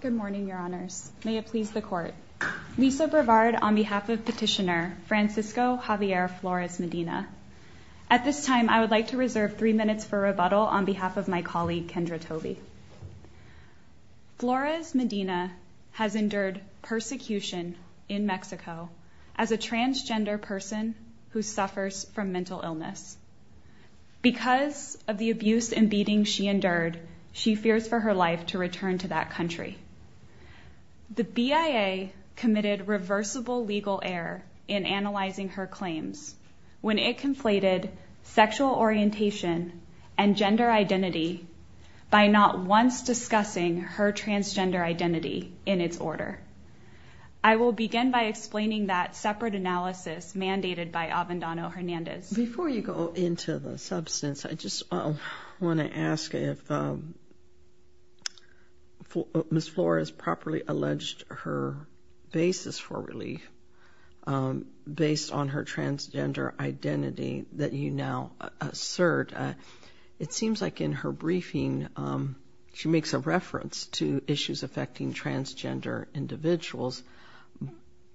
Good morning, Your Honors. May it please the Court. Lisa Brevard on behalf of Petitioner Francisco Javier Flores Medina. At this time, I would like to reserve three minutes for rebuttal on behalf of my colleague, Kendra Tobey. Flores Medina has endured persecution in Mexico as a transgender person who suffers from mental illness. Because of the abuse and beatings she endured, she fears for her life to return to that country. The BIA committed reversible legal error in analyzing her claims when it conflated sexual orientation and gender identity by not once discussing her transgender identity in its order. I will begin by explaining that separate analysis mandated by Avendano-Hernandez. Before you go into the substance, I just want to ask if Ms. Flores properly alleged her basis for relief based on her transgender identity that you now assert. It seems like in her briefing she makes a reference to issues affecting transgender individuals,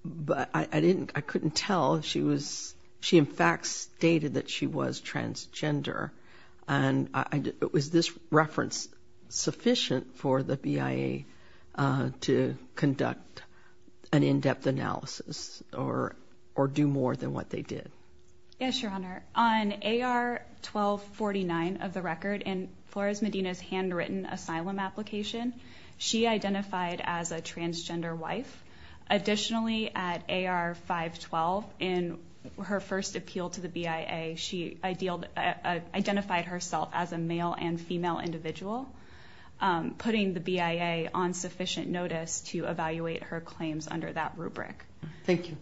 but I couldn't tell if she in fact stated that she was transgender. Was this reference sufficient for the BIA to conduct an in-depth analysis or do more than what they did? Yes, Your Honor. On AR-1249 of the record in Flores Medina's handwritten asylum application, she identified as a transgender wife. Additionally, at AR-512 in her first appeal to the BIA, she identified herself as a male and female individual, putting the BIA on sufficient notice to evaluate her claims under that rubric. Thank you.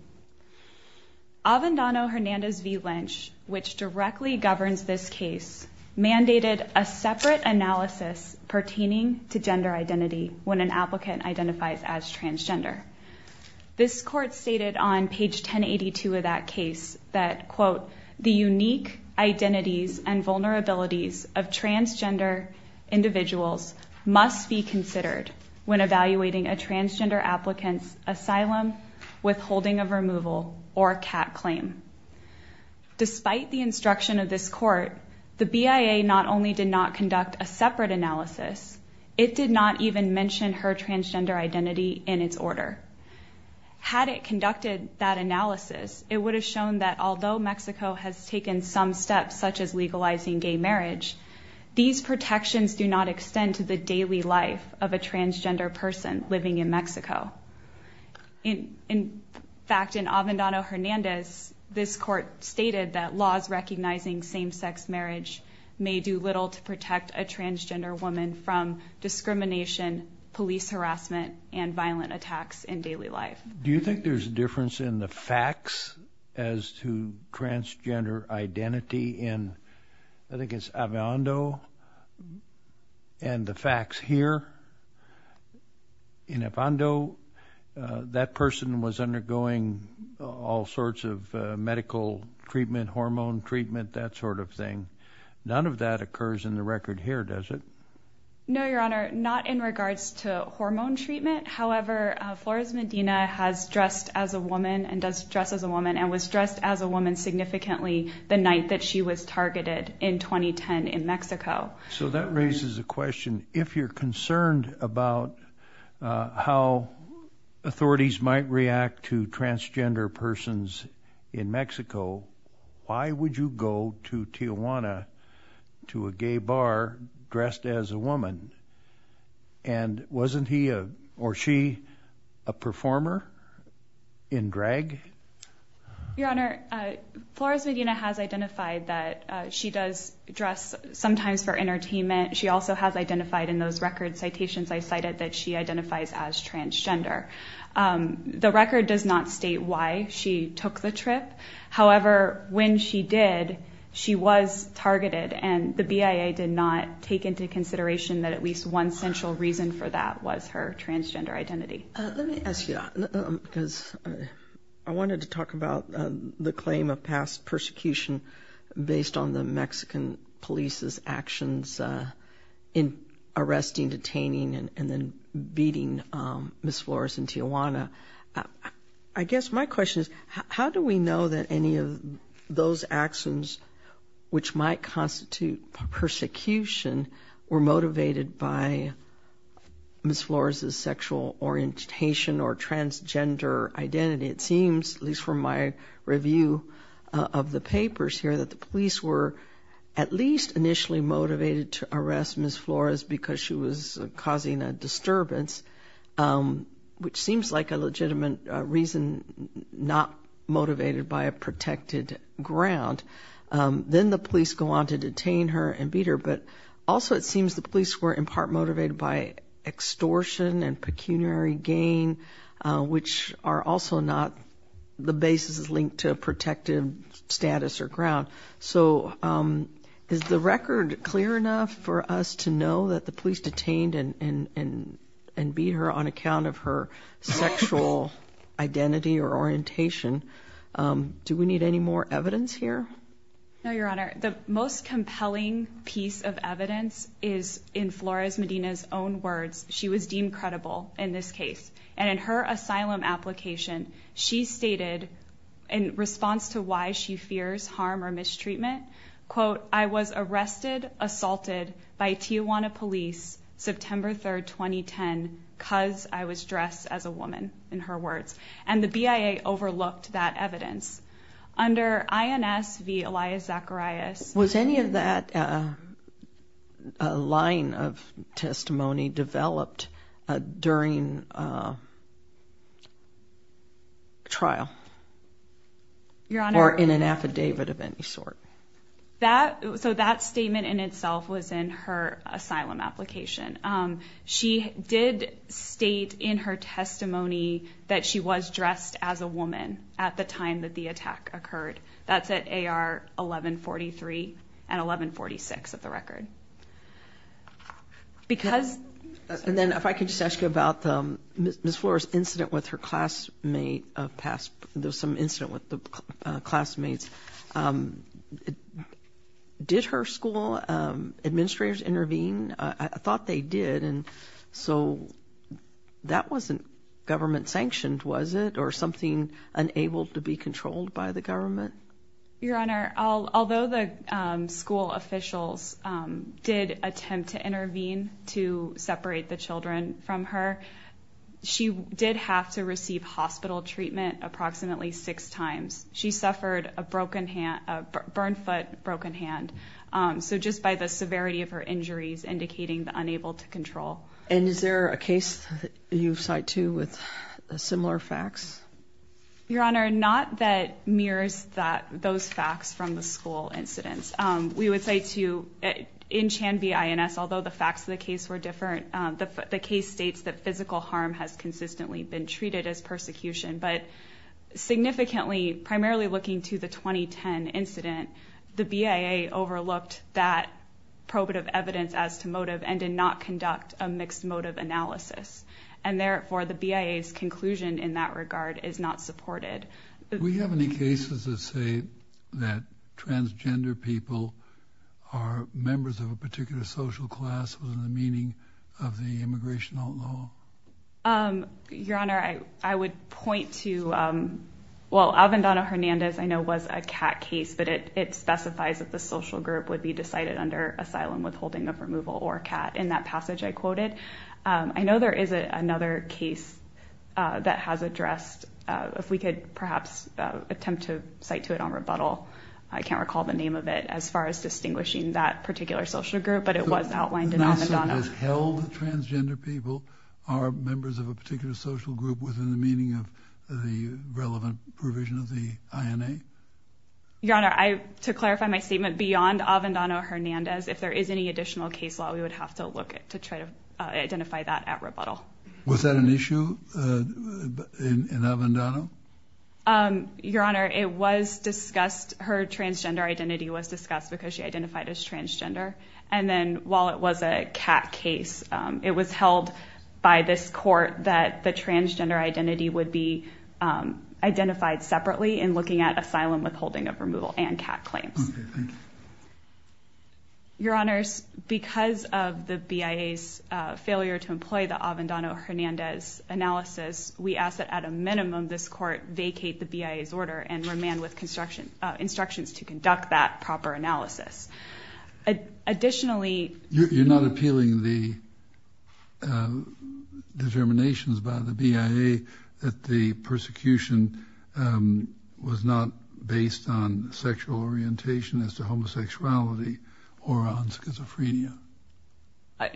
Avendano-Hernandez v. Lynch, which directly governs this case, mandated a separate analysis pertaining to gender identity when an applicant identifies as transgender. This court stated on page 1082 of that case that, quote, Despite the instruction of this court, the BIA not only did not conduct a separate analysis, it did not even mention her transgender identity in its order. Had it conducted that analysis, it would have shown that although Mexico has taken some steps, such as legalizing gay marriage, these protections do not extend to the daily life of a transgender person living in Mexico. In fact, in Avendano-Hernandez, this court stated that laws recognizing same-sex marriage may do little to protect a transgender woman from discrimination, police harassment, and violent attacks in daily life. Do you think there's a difference in the facts as to transgender identity in, I think it's Avendo and the facts here? In Avendo, that person was undergoing all sorts of medical treatment, hormone treatment, that sort of thing. None of that occurs in the record here, does it? No, Your Honor, not in regards to hormone treatment. However, Flores Medina has dressed as a woman and does dress as a woman and was dressed as a woman significantly the night that she was targeted in 2010 in Mexico. So that raises a question. If you're concerned about how authorities might react to transgender persons in Mexico, why would you go to Tijuana to a gay bar dressed as a woman? And wasn't he or she a performer in drag? Your Honor, Flores Medina has identified that she does dress sometimes for entertainment. She also has identified in those record citations I cited that she identifies as transgender. The record does not state why she took the trip. However, when she did, she was targeted, and the BIA did not take into consideration that at least one central reason for that was her transgender identity. Let me ask you, because I wanted to talk about the claim of past persecution based on the Mexican police's actions in arresting, detaining, and then beating Ms. Flores in Tijuana. I guess my question is how do we know that any of those actions which might constitute persecution were motivated by Ms. Flores' sexual orientation or transgender identity? It seems, at least from my review of the papers here, that the police were at least initially motivated to arrest Ms. Flores because she was causing a disturbance, which seems like a legitimate reason not motivated by a protected ground. Then the police go on to detain her and beat her, but also it seems the police were in part motivated by extortion and pecuniary gain, which are also not the basis linked to a protected status or ground. So is the record clear enough for us to know that the police detained and beat her on account of her sexual identity or orientation? Do we need any more evidence here? No, Your Honor. The most compelling piece of evidence is in Flores Medina's own words. She was deemed credible in this case, and in her asylum application, she stated in response to why she fears harm or mistreatment, quote, I was arrested, assaulted by Tijuana police September 3, 2010, because I was dressed as a woman, in her words. And the BIA overlooked that evidence. Under INS v. Elias Zacharias. Was any of that line of testimony developed during trial? Your Honor. Or in an affidavit of any sort? So that statement in itself was in her asylum application. She did state in her testimony that she was dressed as a woman at the time that the attack occurred. That's at AR 1143 and 1146 of the record. And then if I could just ask you about Ms. Flores' incident with her classmate. There was some incident with the classmates. Did her school administrators intervene? I thought they did. And so that wasn't government sanctioned, was it, or something unable to be controlled by the government? Your Honor, although the school officials did attempt to intervene to separate the children from her, she did have to receive hospital treatment approximately six times. She suffered a burned foot, broken hand. So just by the severity of her injuries indicating the unable to control. And is there a case that you cite, too, with similar facts? Your Honor, not that mirrors those facts from the school incidents. We would say, too, in Chan v. INS, although the facts of the case were different, the case states that physical harm has consistently been treated as persecution. But significantly, primarily looking to the 2010 incident, the BIA overlooked that probative evidence as to motive and did not conduct a mixed motive analysis. And therefore, the BIA's conclusion in that regard is not supported. Do we have any cases that say that transgender people are members of a particular social class within the meaning of the immigration law? Your Honor, I would point to, well, it specifies that the social group would be decided under asylum withholding of removal or CAT. In that passage I quoted, I know there is another case that has addressed, if we could perhaps attempt to cite to it on rebuttal, I can't recall the name of it as far as distinguishing that particular social group, but it was outlined in On the Donna. So it is held that transgender people are members of a particular social group within the meaning of the relevant provision of the INA? Your Honor, to clarify my statement, beyond Avendano Hernandez, if there is any additional case law, we would have to look to try to identify that at rebuttal. Was that an issue in Avendano? Your Honor, it was discussed. Her transgender identity was discussed because she identified as transgender. And then while it was a CAT case, it was held by this court that the transgender identity would be identified separately in looking at asylum withholding of removal and CAT claims. Okay, thank you. Your Honors, because of the BIA's failure to employ the Avendano Hernandez analysis, we ask that at a minimum this court vacate the BIA's order and remand with instructions to conduct that proper analysis. Additionally, You're not appealing the determinations by the BIA that the persecution was not based on sexual orientation as to homosexuality or on schizophrenia?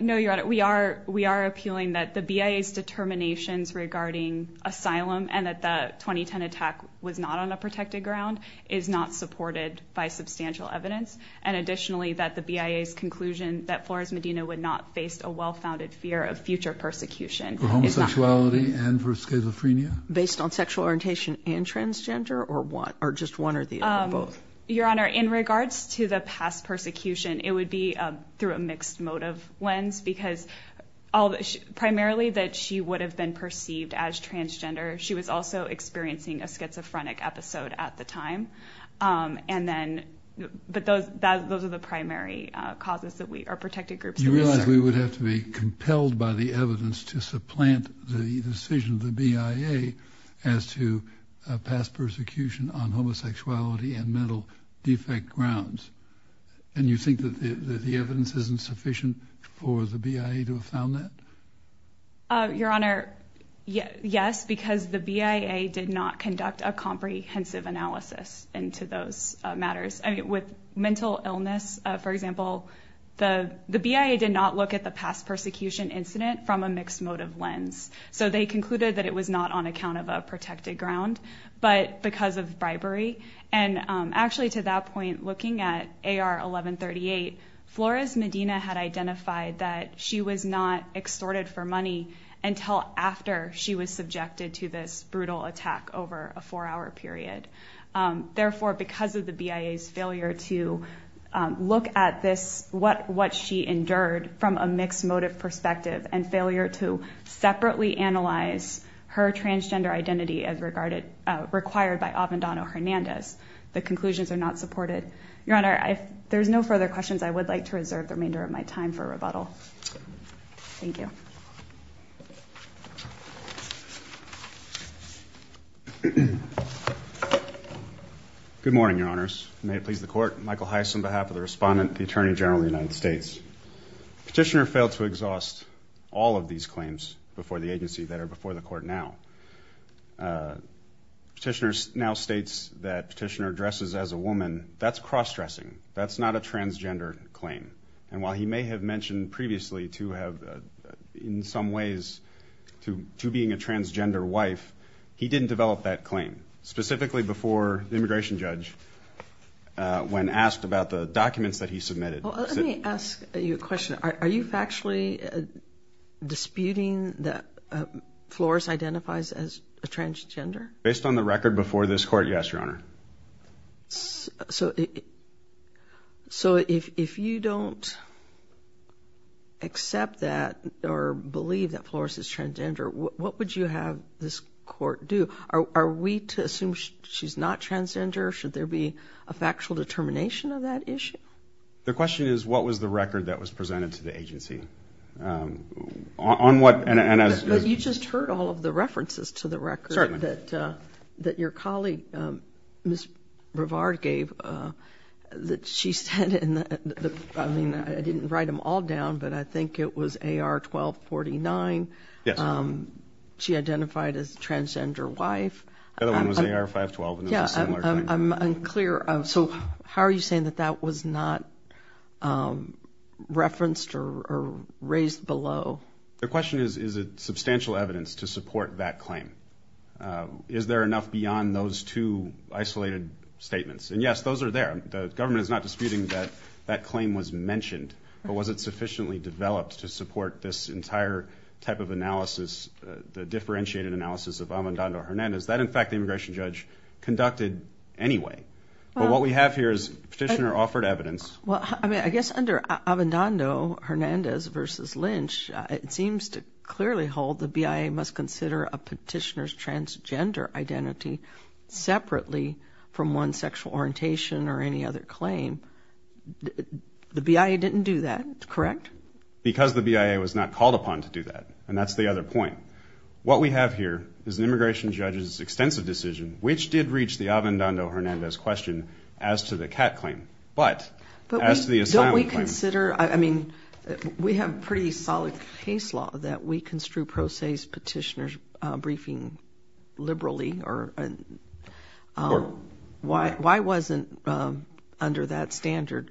No, Your Honor, we are appealing that the BIA's determinations regarding asylum and that the 2010 attack was not on a protected ground is not supported by substantial evidence, and additionally that the BIA's conclusion that Flores Medina would not face a well-founded fear of future persecution For homosexuality and for schizophrenia? Based on sexual orientation and transgender or just one or the other of both? Your Honor, in regards to the past persecution, it would be through a mixed motive lens because primarily that she would have been perceived as transgender. She was also experiencing a schizophrenic episode at the time. But those are the primary causes that we are protected groups. You realize we would have to be compelled by the evidence to supplant the decision of the BIA as to past persecution on homosexuality and mental defect grounds, and you think that the evidence isn't sufficient for the BIA to have found that? Your Honor, yes, because the BIA did not conduct a comprehensive analysis into those matters. With mental illness, for example, the BIA did not look at the past persecution incident from a mixed motive lens. So they concluded that it was not on account of a protected ground, but because of bribery. Actually, to that point, looking at AR 1138, Flores Medina had identified that she was not extorted for money until after she was subjected to this brutal attack over a four-hour period. Therefore, because of the BIA's failure to look at what she endured from a mixed motive perspective and failure to separately analyze her transgender identity as required by Avendano-Hernandez, the conclusions are not supported. Your Honor, if there's no further questions, I would like to reserve the remainder of my time for rebuttal. Thank you. Good morning, Your Honors. May it please the Court. Michael Heiss on behalf of the Respondent and the Attorney General of the United States. Petitioner failed to exhaust all of these claims before the agency that are before the Court now. Petitioner now states that Petitioner dresses as a woman. That's cross-dressing. That's not a transgender claim. And while he may have mentioned previously to have, in some ways, to being a transgender wife, he didn't develop that claim, specifically before the immigration judge, when asked about the documents that he submitted. Let me ask you a question. Are you factually disputing that Flores identifies as a transgender? Based on the record before this Court, yes, Your Honor. So if you don't accept that or believe that Flores is transgender, what would you have this Court do? Are we to assume she's not transgender? Should there be a factual determination of that issue? The question is, what was the record that was presented to the agency? But you just heard all of the references to the record that your colleague, Ms. Brevard, gave. She said, I mean, I didn't write them all down, but I think it was AR 1249. Yes. She identified as a transgender wife. The other one was AR 512, and it was a similar thing. I'm unclear. So how are you saying that that was not referenced or raised below? The question is, is it substantial evidence to support that claim? Is there enough beyond those two isolated statements? And, yes, those are there. The government is not disputing that that claim was mentioned, but was it sufficiently developed to support this entire type of analysis, the differentiated analysis of Avendando-Hernandez? That, in fact, the immigration judge conducted anyway. But what we have here is Petitioner offered evidence. Well, I mean, I guess under Avendando-Hernandez v. Lynch, it seems to clearly hold the BIA must consider a petitioner's transgender identity separately from one's sexual orientation or any other claim. The BIA didn't do that, correct? Because the BIA was not called upon to do that, and that's the other point. What we have here is an immigration judge's extensive decision, which did reach the Avendando-Hernandez question as to the cat claim, but as to the asylum claim. But don't we consider, I mean, we have pretty solid case law that we construe pro se's petitioner's briefing liberally or why wasn't under that standard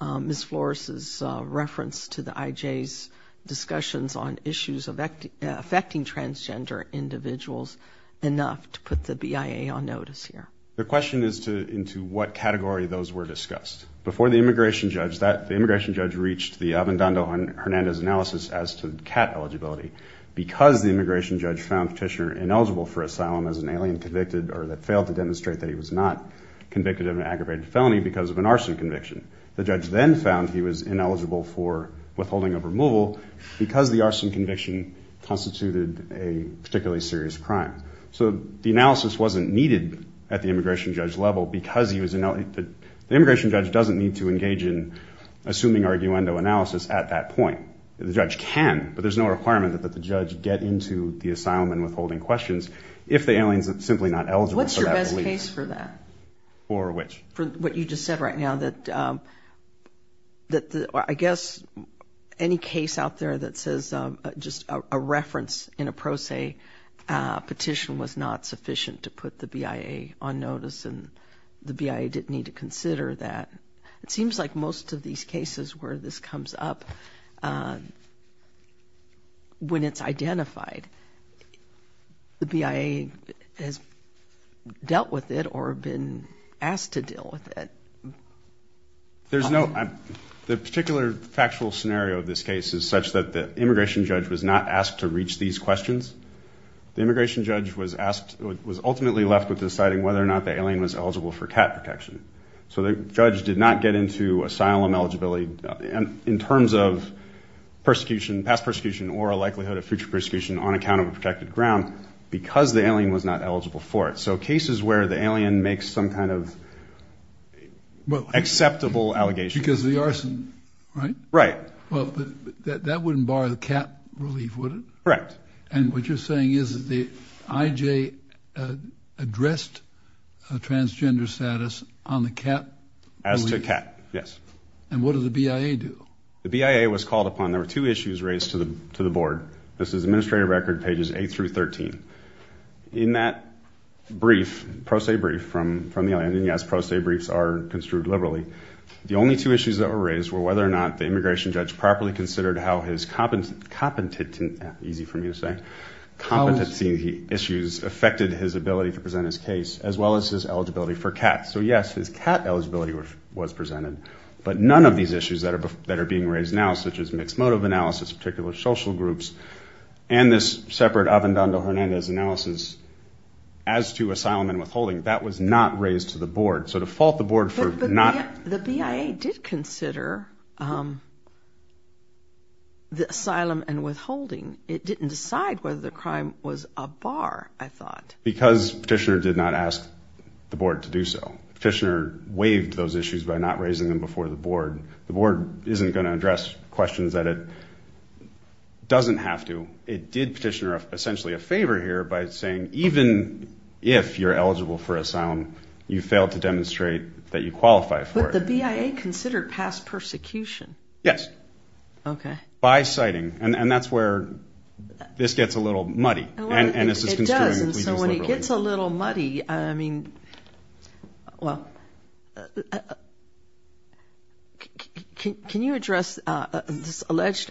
Ms. IJ's discussions on issues affecting transgender individuals enough to put the BIA on notice here? The question is into what category those were discussed. Before the immigration judge, the immigration judge reached the Avendando-Hernandez analysis as to cat eligibility because the immigration judge found petitioner ineligible for asylum as an alien convicted or that failed to demonstrate that he was not convicted of an aggravated felony because of an arson conviction. The judge then found he was ineligible for withholding of removal because the arson conviction constituted a particularly serious crime. So the analysis wasn't needed at the immigration judge level because he was ineligible. The immigration judge doesn't need to engage in assuming arguendo analysis at that point. The judge can, but there's no requirement that the judge get into the asylum and withholding questions if the alien is simply not eligible for that release. What's your best case for that? For which? For what you just said right now that I guess any case out there that says just a reference in a pro se petition was not sufficient to put the BIA on notice and the BIA didn't need to consider that. It seems like most of these cases where this comes up when it's identified, the BIA has dealt with it or been asked to deal with it. There's no, the particular factual scenario of this case is such that the immigration judge was not asked to reach these questions. The immigration judge was asked, was ultimately left with deciding whether or not the alien was eligible for cat protection. So the judge did not get into asylum eligibility in terms of persecution, past persecution, or a likelihood of future persecution on account of a protected ground because the alien was not eligible for it. So cases where the alien makes some kind of acceptable allegations. Because the arson, right? Right. Well, that wouldn't bar the cat relief, would it? Correct. And what you're saying is that the IJ addressed a transgender status on the cat as to cat. Yes. And what does the BIA do? The BIA was called upon. There were two issues raised to the board. This is administrative record pages eight through 13. In that brief, pro se brief from the alien, and yes, pro se briefs are construed liberally. The only two issues that were raised were whether or not the immigration judge properly considered how his competent, easy for me to say competency issues affected his ability to present his case as well as his eligibility for cats. So yes, his cat eligibility was presented, but none of these issues that are being raised now, such as mixed motive analysis, particular social groups, and this separate Avendando Hernandez analysis as to asylum and withholding, that was not raised to the board. So to fault the board for not... But the BIA did consider the asylum and withholding. It didn't decide whether the crime was a bar, I thought. Because petitioner did not ask the board to do so. Petitioner waived those issues by not raising them before the board. The board isn't going to address questions that it doesn't have to. It did petitioner essentially a favor here by saying, even if you're eligible for asylum, you failed to demonstrate that you qualify for it. But the BIA considered past persecution. Yes. Okay. By citing, and that's where this gets a little muddy. It does, and so when it gets a little muddy, I mean, well, can you address this alleged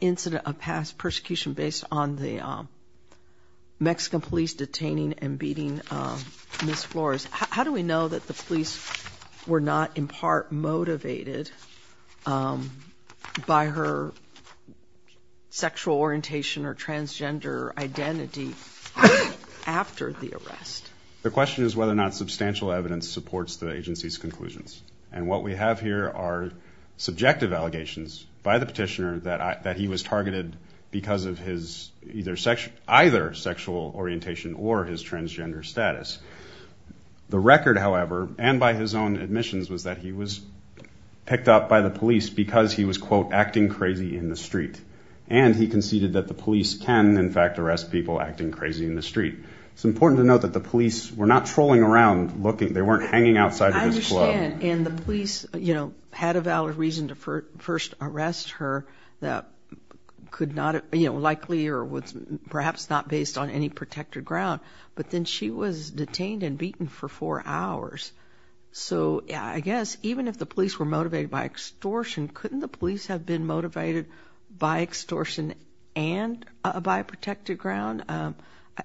incident of past persecution based on the Mexican police detaining and beating Ms. Flores? How do we know that the police were not in part motivated by her sexual orientation or transgender identity after the arrest? The question is whether or not substantial evidence supports the agency's conclusions. And what we have here are subjective allegations by the petitioner that he was targeted because of his either sexual orientation or his transgender status. The record, however, and by his own admissions, was that he was picked up by the police because he was, quote, acting crazy in the street. And he conceded that the police can, in fact, arrest people acting crazy in the street. It's important to note that the police were not trolling around looking, they weren't hanging outside of his club. I understand, and the police, you know, had a valid reason to first arrest her that could not, you know, perhaps not based on any protected ground. But then she was detained and beaten for four hours. So I guess even if the police were motivated by extortion, couldn't the police have been motivated by extortion and by a protected ground?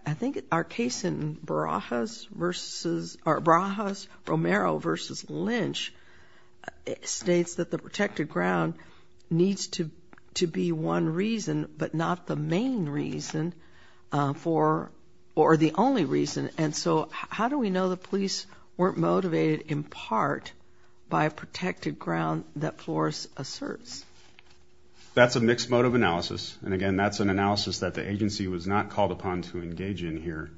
I think our case in Barajas versus, or Barajas-Romero versus Lynch states that the protected ground needs to be one reason, but not the main reason for, or the only reason. And so how do we know the police weren't motivated in part by a protected ground that Flores asserts? That's a mixed mode of analysis. And, again, that's an analysis that the agency was not called upon to engage in here.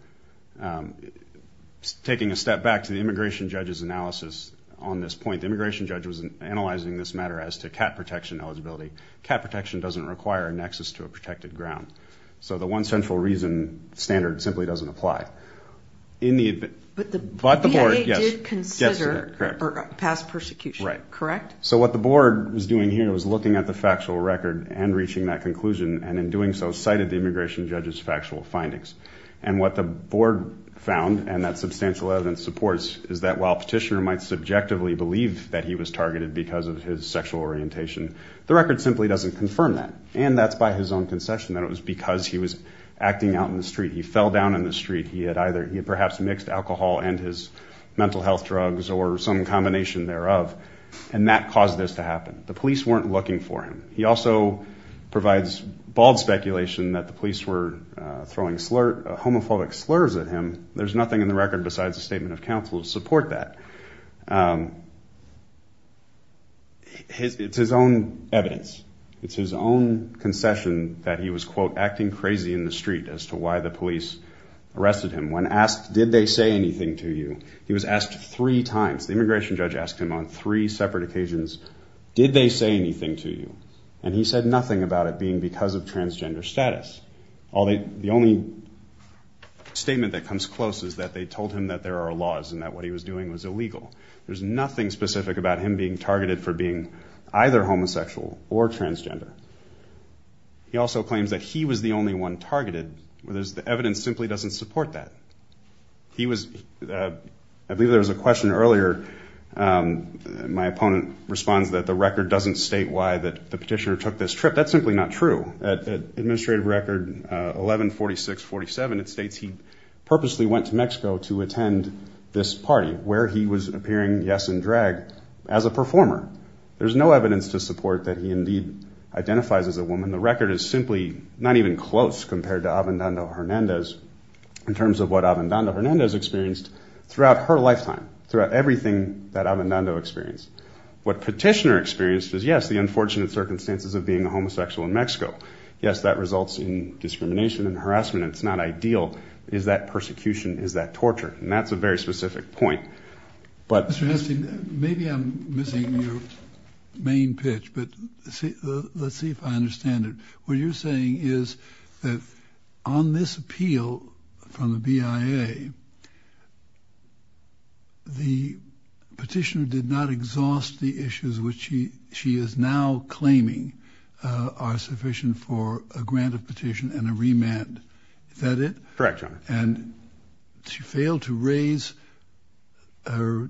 Taking a step back to the immigration judge's analysis on this point, the immigration judge was analyzing this matter as to cat protection eligibility. Cat protection doesn't require a nexus to a protected ground. So the one central reason standard simply doesn't apply. But the BIA did consider or pass persecution, correct? Right. So what the board was doing here was looking at the factual record and reaching that conclusion, and in doing so, cited the immigration judge's factual findings. And what the board found, and that substantial evidence supports, is that while Petitioner might subjectively believe that he was targeted because of his sexual orientation, the record simply doesn't confirm that. And that's by his own concession that it was because he was acting out in the street. He fell down in the street. He had perhaps mixed alcohol and his mental health drugs or some combination thereof, and that caused this to happen. The police weren't looking for him. He also provides bald speculation that the police were throwing homophobic slurs at him. There's nothing in the record besides a statement of counsel to support that. It's his own evidence. It's his own concession that he was, quote, acting crazy in the street as to why the police arrested him. When asked, did they say anything to you, he was asked three times. The immigration judge asked him on three separate occasions, did they say anything to you? And he said nothing about it being because of transgender status. The only statement that comes close is that they told him that there are laws and that what he was doing was illegal. There's nothing specific about him being targeted for being either homosexual or transgender. He also claims that he was the only one targeted. The evidence simply doesn't support that. I believe there was a question earlier. My opponent responds that the record doesn't state why the petitioner took this trip. That's simply not true. Administrative record 114647, it states he purposely went to Mexico to attend this party where he was appearing, yes, in drag as a performer. There's no evidence to support that he indeed identifies as a woman. The record is simply not even close compared to Abendando Hernandez in terms of what Abendando Hernandez experienced throughout her lifetime, throughout everything that Abendando experienced. What petitioner experienced is, yes, the unfortunate circumstances of being a homosexual in Mexico. Yes, that results in discrimination and harassment. It's not ideal. Is that persecution? Is that torture? And that's a very specific point. Mr. Hestey, maybe I'm missing your main pitch, but let's see if I understand it. What you're saying is that on this appeal from the BIA, the petitioner did not exhaust the issues which she is now claiming are sufficient for a grant of petition and a remand. Is that it? Correct, Your Honor. And she failed to raise her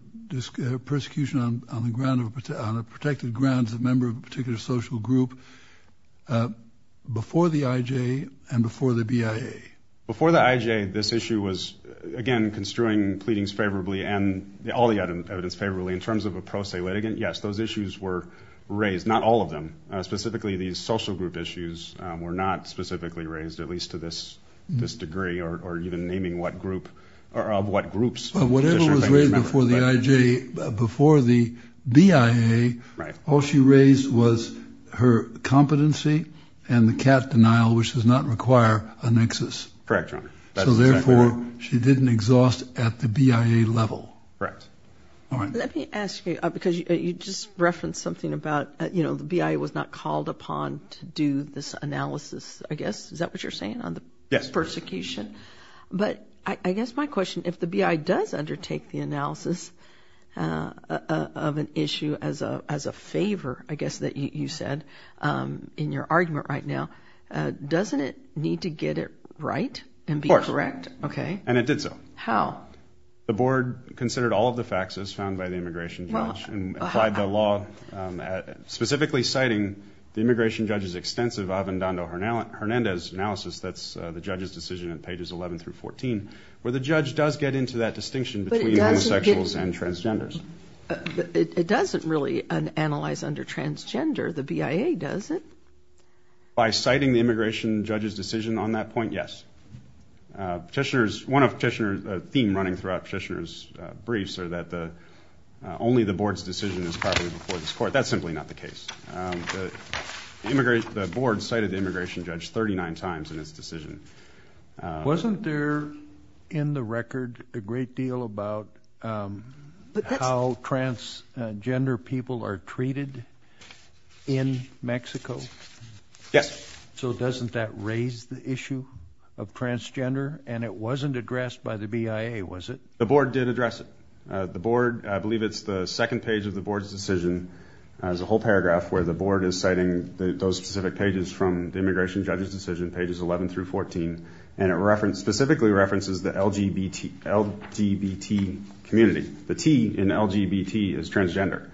persecution on the protected grounds of a member of a particular social group before the IJ and before the BIA. Before the IJ, this issue was, again, construing pleadings favorably and all the evidence favorably. In terms of a pro se litigant, yes, those issues were raised, not all of them. Specifically, these social group issues were not specifically raised, at least to this degree, or even naming what group or of what groups. Whatever was raised before the IJ, before the BIA, all she raised was her competency and the cat denial, which does not require a nexus. Correct, Your Honor. So, therefore, she didn't exhaust at the BIA level. Correct. All right. Let me ask you, because you just referenced something about, you know, the BIA was not called upon to do this analysis, I guess. Is that what you're saying on the persecution? Yes. But I guess my question, if the BIA does undertake the analysis of an issue as a favor, I guess, that you said in your argument right now, doesn't it need to get it right and be correct? Of course. Okay. And it did so. How? The board considered all of the facts as found by the immigration judge and applied the law, specifically citing the immigration judge's extensive Avendando-Hernandez analysis, that's the judge's decision at pages 11 through 14, where the judge does get into that distinction between homosexuals and transgenders. It doesn't really analyze under transgender. The BIA does it. By citing the immigration judge's decision on that point, yes. Petitioners, one of petitioners, a theme running throughout petitioners' briefs are that only the board's decision is probably before this court. That's simply not the case. The board cited the immigration judge 39 times in its decision. Wasn't there in the record a great deal about how transgender people are treated in Mexico? Yes. So doesn't that raise the issue of transgender? And it wasn't addressed by the BIA, was it? The board did address it. The board, I believe it's the second page of the board's decision, has a whole paragraph where the board is citing those specific pages from the immigration judge's decision, pages 11 through 14, and it specifically references the LGBT community. The T in LGBT is transgender.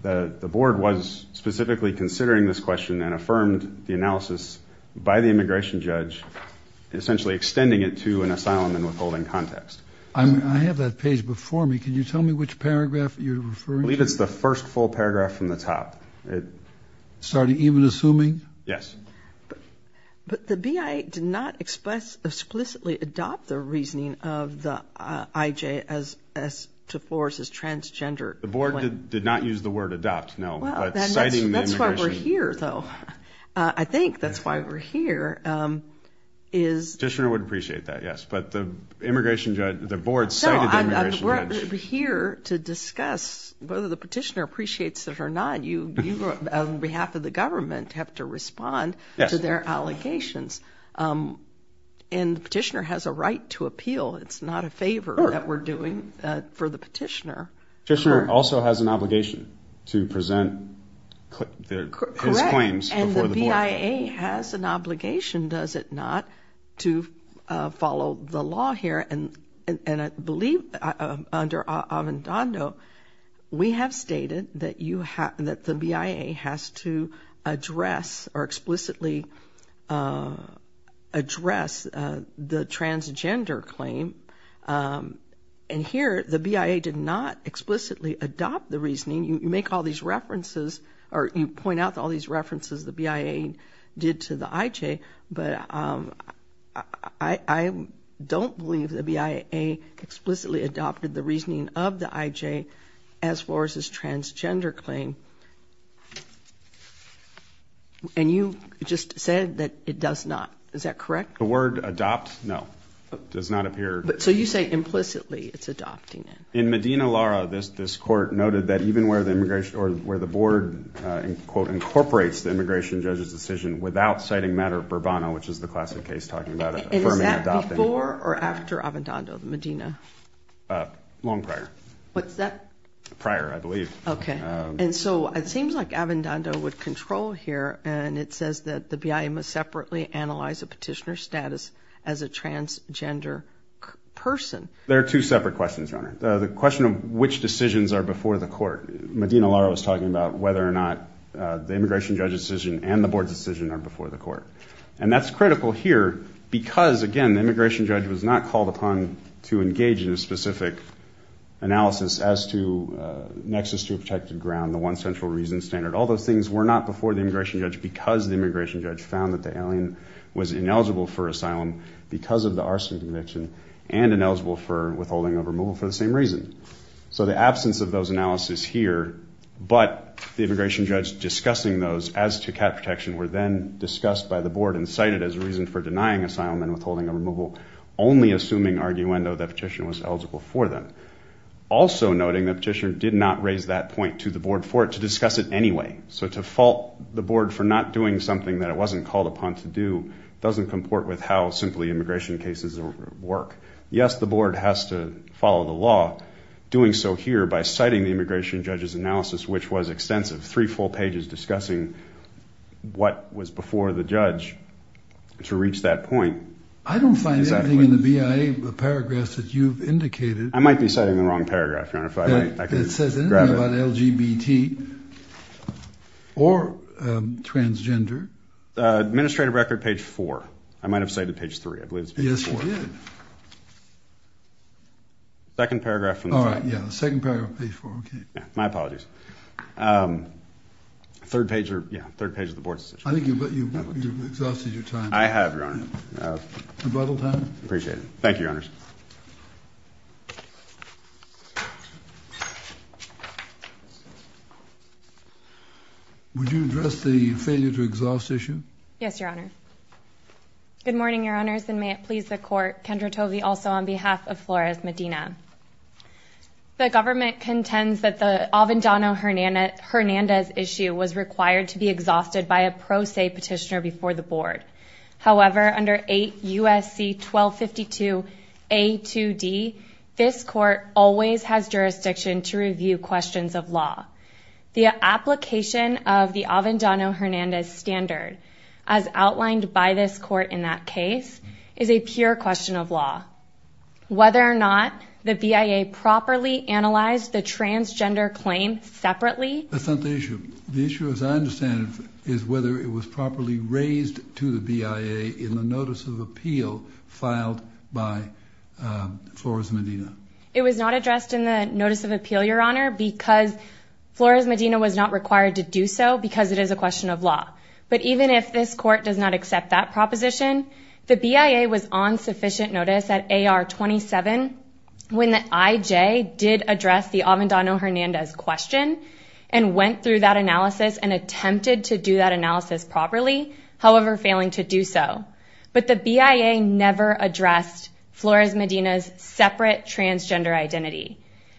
The board was specifically considering this question and affirmed the analysis by the immigration judge, essentially extending it to an asylum and withholding context. I have that page before me. Can you tell me which paragraph you're referring to? I believe it's the first full paragraph from the top. Sorry, even assuming? Yes. But the BIA did not explicitly adopt the reasoning of the IJ as to force as transgender. The board did not use the word adopt, no, but citing the immigration judge. That's why we're here, though. I think that's why we're here. The petitioner would appreciate that, yes. But the board cited the immigration judge. We're here to discuss whether the petitioner appreciates it or not. You, on behalf of the government, have to respond to their allegations. And the petitioner has a right to appeal. It's not a favor that we're doing for the petitioner. The petitioner also has an obligation to present his claims before the board. And the BIA has an obligation, does it not, to follow the law here. And I believe under Avendando we have stated that the BIA has to address or explicitly address the transgender claim. And here the BIA did not explicitly adopt the reasoning. You make all these references or you point out all these references the BIA did to the IJ. But I don't believe the BIA explicitly adopted the reasoning of the IJ as far as this transgender claim. And you just said that it does not. Is that correct? The word adopt, no, does not appear. So you say implicitly it's adopting it. In Medina, Lara, this court noted that even where the board incorporates the immigration judge's decision without citing matter of Burbano, which is the classic case talking about affirming adopting. Is that before or after Avendando, Medina? Long prior. What's that? Prior, I believe. Okay. And so it seems like Avendando would control here. And it says that the BIA must separately analyze a petitioner's status as a transgender person. There are two separate questions, Your Honor. The question of which decisions are before the court. Medina, Lara was talking about whether or not the immigration judge's decision and the board's decision are before the court. And that's critical here because, again, the immigration judge was not called upon to engage in a specific analysis as to nexus to a protected ground, the one central reason standard. All those things were not before the immigration judge because the immigration judge found that the alien was ineligible for asylum because of the arson conviction and ineligible for withholding a removal for the same reason. So the absence of those analyses here, but the immigration judge discussing those as to cat protection were then discussed by the board and cited as a reason for denying asylum and withholding a removal, only assuming, arguendo, that petitioner was eligible for them. Also noting the petitioner did not raise that point to the board for it to discuss it anyway. So to fault the board for not doing something that it wasn't called upon to do doesn't comport with how simply immigration cases work. Yes, the board has to follow the law, doing so here by citing the immigration judge's analysis, which was extensive, three full pages discussing what was before the judge to reach that point. I don't find anything in the BIA paragraphs that you've indicated. I might be citing the wrong paragraph, Your Honor. It says anything about LGBT or transgender. Administrative record page four. I might have cited page three. I believe it's page four. Yes, you did. Second paragraph from the front. All right, yeah, the second paragraph, page four. Okay. My apologies. Third page of the board's decision. I think you've exhausted your time. I have, Your Honor. A brothel time? Appreciate it. Thank you, Your Honors. Would you address the failure to exhaust issue? Yes, Your Honor. Good morning, Your Honors, and may it please the Court. Kendra Tovey also on behalf of Flores Medina. The government contends that the Avendano-Hernandez issue was required to be exhausted by a pro se petitioner before the board. However, under 8 U.S.C. 1252 A2D, this court always has jurisdiction to review questions of law. The application of the Avendano-Hernandez standard, as outlined by this court in that case, is a pure question of law. Whether or not the BIA properly analyzed the transgender claim separately. That's not the issue. The issue, as I understand it, is whether it was properly raised to the BIA in the notice of appeal filed by Flores Medina. It was not addressed in the notice of appeal, Your Honor, because Flores Medina was not required to do so because it is a question of law. But even if this court does not accept that proposition, the BIA was on sufficient notice at AR 27 when the IJ did address the Avendano-Hernandez question and went through that analysis and attempted to do that analysis properly, however failing to do so. But the BIA never addressed Flores Medina's separate transgender identity.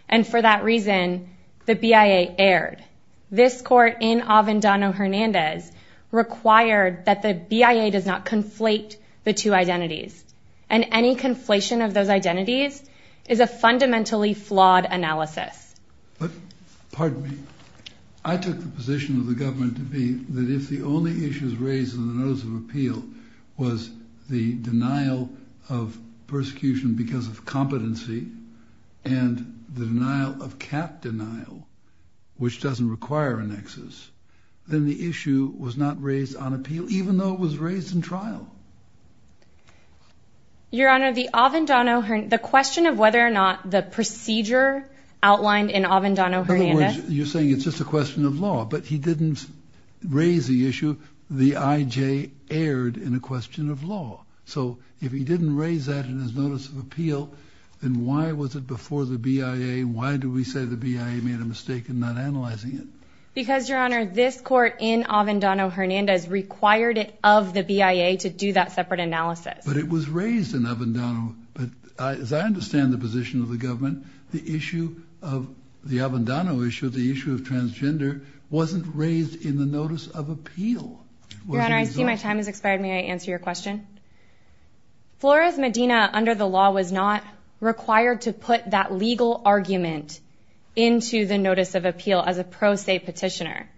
And for that reason, the BIA erred. This court in Avendano-Hernandez required that the BIA does not conflate the two identities. And any conflation of those identities is a fundamentally flawed analysis. But, pardon me, I took the position of the government to be that if the only issues raised in the notice of appeal was the denial of persecution because of competency and the denial of cat denial, which doesn't require annexes, then the issue was not raised on appeal even though it was raised in trial. Your Honor, the Avendano-Hernandez question of whether or not the procedure outlined in Avendano-Hernandez In other words, you're saying it's just a question of law, but he didn't raise the issue. The IJ erred in a question of law. So if he didn't raise that in his notice of appeal, then why was it before the BIA? Why do we say the BIA made a mistake in not analyzing it? Because, Your Honor, this court in Avendano-Hernandez required it of the BIA to do that separate analysis. But it was raised in Avendano. As I understand the position of the government, the Avendano issue, the issue of transgender, wasn't raised in the notice of appeal. Your Honor, I see my time has expired. May I answer your question? Flores Medina, under the law, was not required to put that legal argument into the notice of appeal as a pro se petitioner.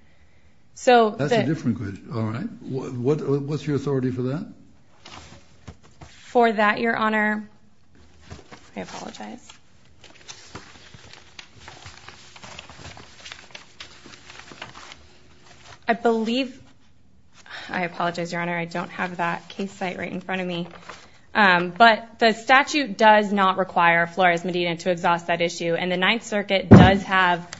That's a different question. All right. What's your authority for that? For that, Your Honor, I apologize. I believe, I apologize, Your Honor, I don't have that case site right in front of me. But the statute does not require Flores Medina to exhaust that issue, and the Ninth Circuit does have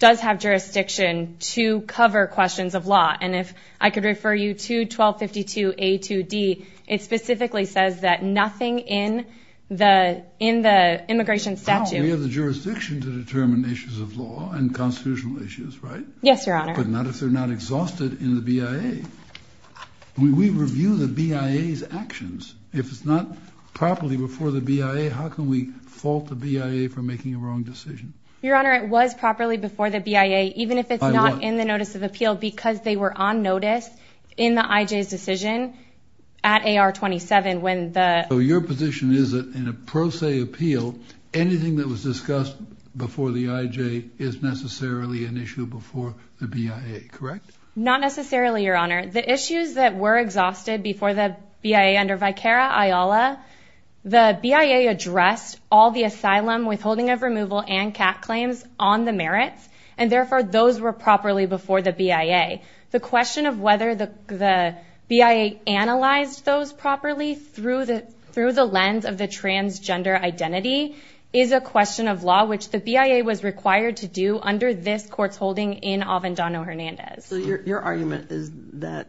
jurisdiction to cover questions of law. And if I could refer you to 1252A2D, it specifically says that nothing in the immigration statute... We have the jurisdiction to determine issues of law and constitutional issues, right? Yes, Your Honor. But not if they're not exhausted in the BIA. We review the BIA's actions. If it's not properly before the BIA, how can we fault the BIA for making a wrong decision? Your Honor, it was properly before the BIA, even if it's not in the notice of appeal, because they were on notice in the IJ's decision at AR 27 when the... So your position is that in a pro se appeal, anything that was discussed before the IJ is necessarily an issue before the BIA, correct? Not necessarily, Your Honor. The issues that were exhausted before the BIA under Vicara, IOLA, the BIA addressed all the asylum, withholding of removal, and CAT claims on the merits, and therefore those were properly before the BIA. The question of whether the BIA analyzed those properly through the lens of the transgender identity is a question of law, which the BIA was required to do under this court's holding in Avendano-Hernandez. So your argument is that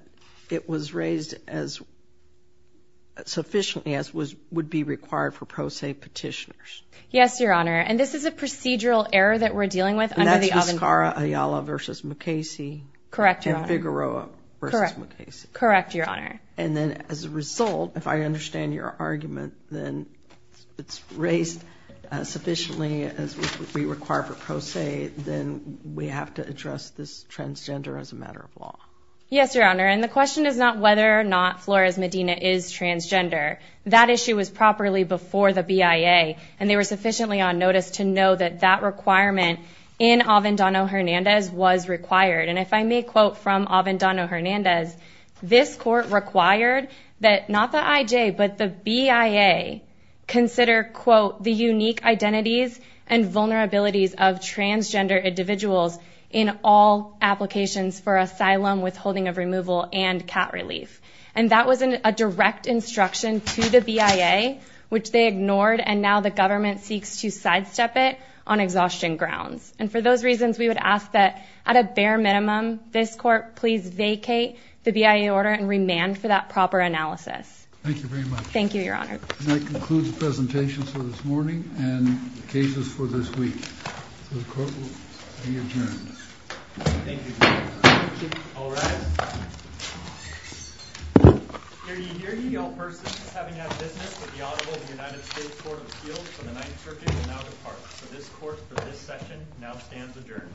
it was raised as sufficiently as would be required for pro se petitioners? Yes, Your Honor, and this is a procedural error that we're dealing with under the Avendano-Hernandez. And that's Vicara, IOLA versus McKaysee? Correct, Your Honor. And Vigoroa versus McKaysee? Correct, Your Honor. And then as a result, if I understand your argument, then it's raised sufficiently as would be required for pro se, then we have to address this transgender as a matter of law? Yes, Your Honor, and the question is not whether or not Flores Medina is transgender. That issue was properly before the BIA, and they were sufficiently on notice to know that that requirement in Avendano-Hernandez was required. And if I may quote from Avendano-Hernandez, this court required that not the IJ, but the BIA consider, quote, the unique identities and vulnerabilities of transgender individuals in all applications for asylum, withholding of removal, and cat relief. And that was a direct instruction to the BIA, which they ignored, and now the government seeks to sidestep it on exhaustion grounds. And for those reasons, we would ask that at a bare minimum this court please vacate the BIA order and remand for that proper analysis. Thank you very much. Thank you, Your Honor. And that concludes the presentation for this morning and the cases for this week. So the court will be adjourned. Thank you. All rise. Hear ye, hear ye, all persons having had business with the Audible of the United States Court of Appeals for the Ninth Circuit will now depart. So this court for this session now stands adjourned.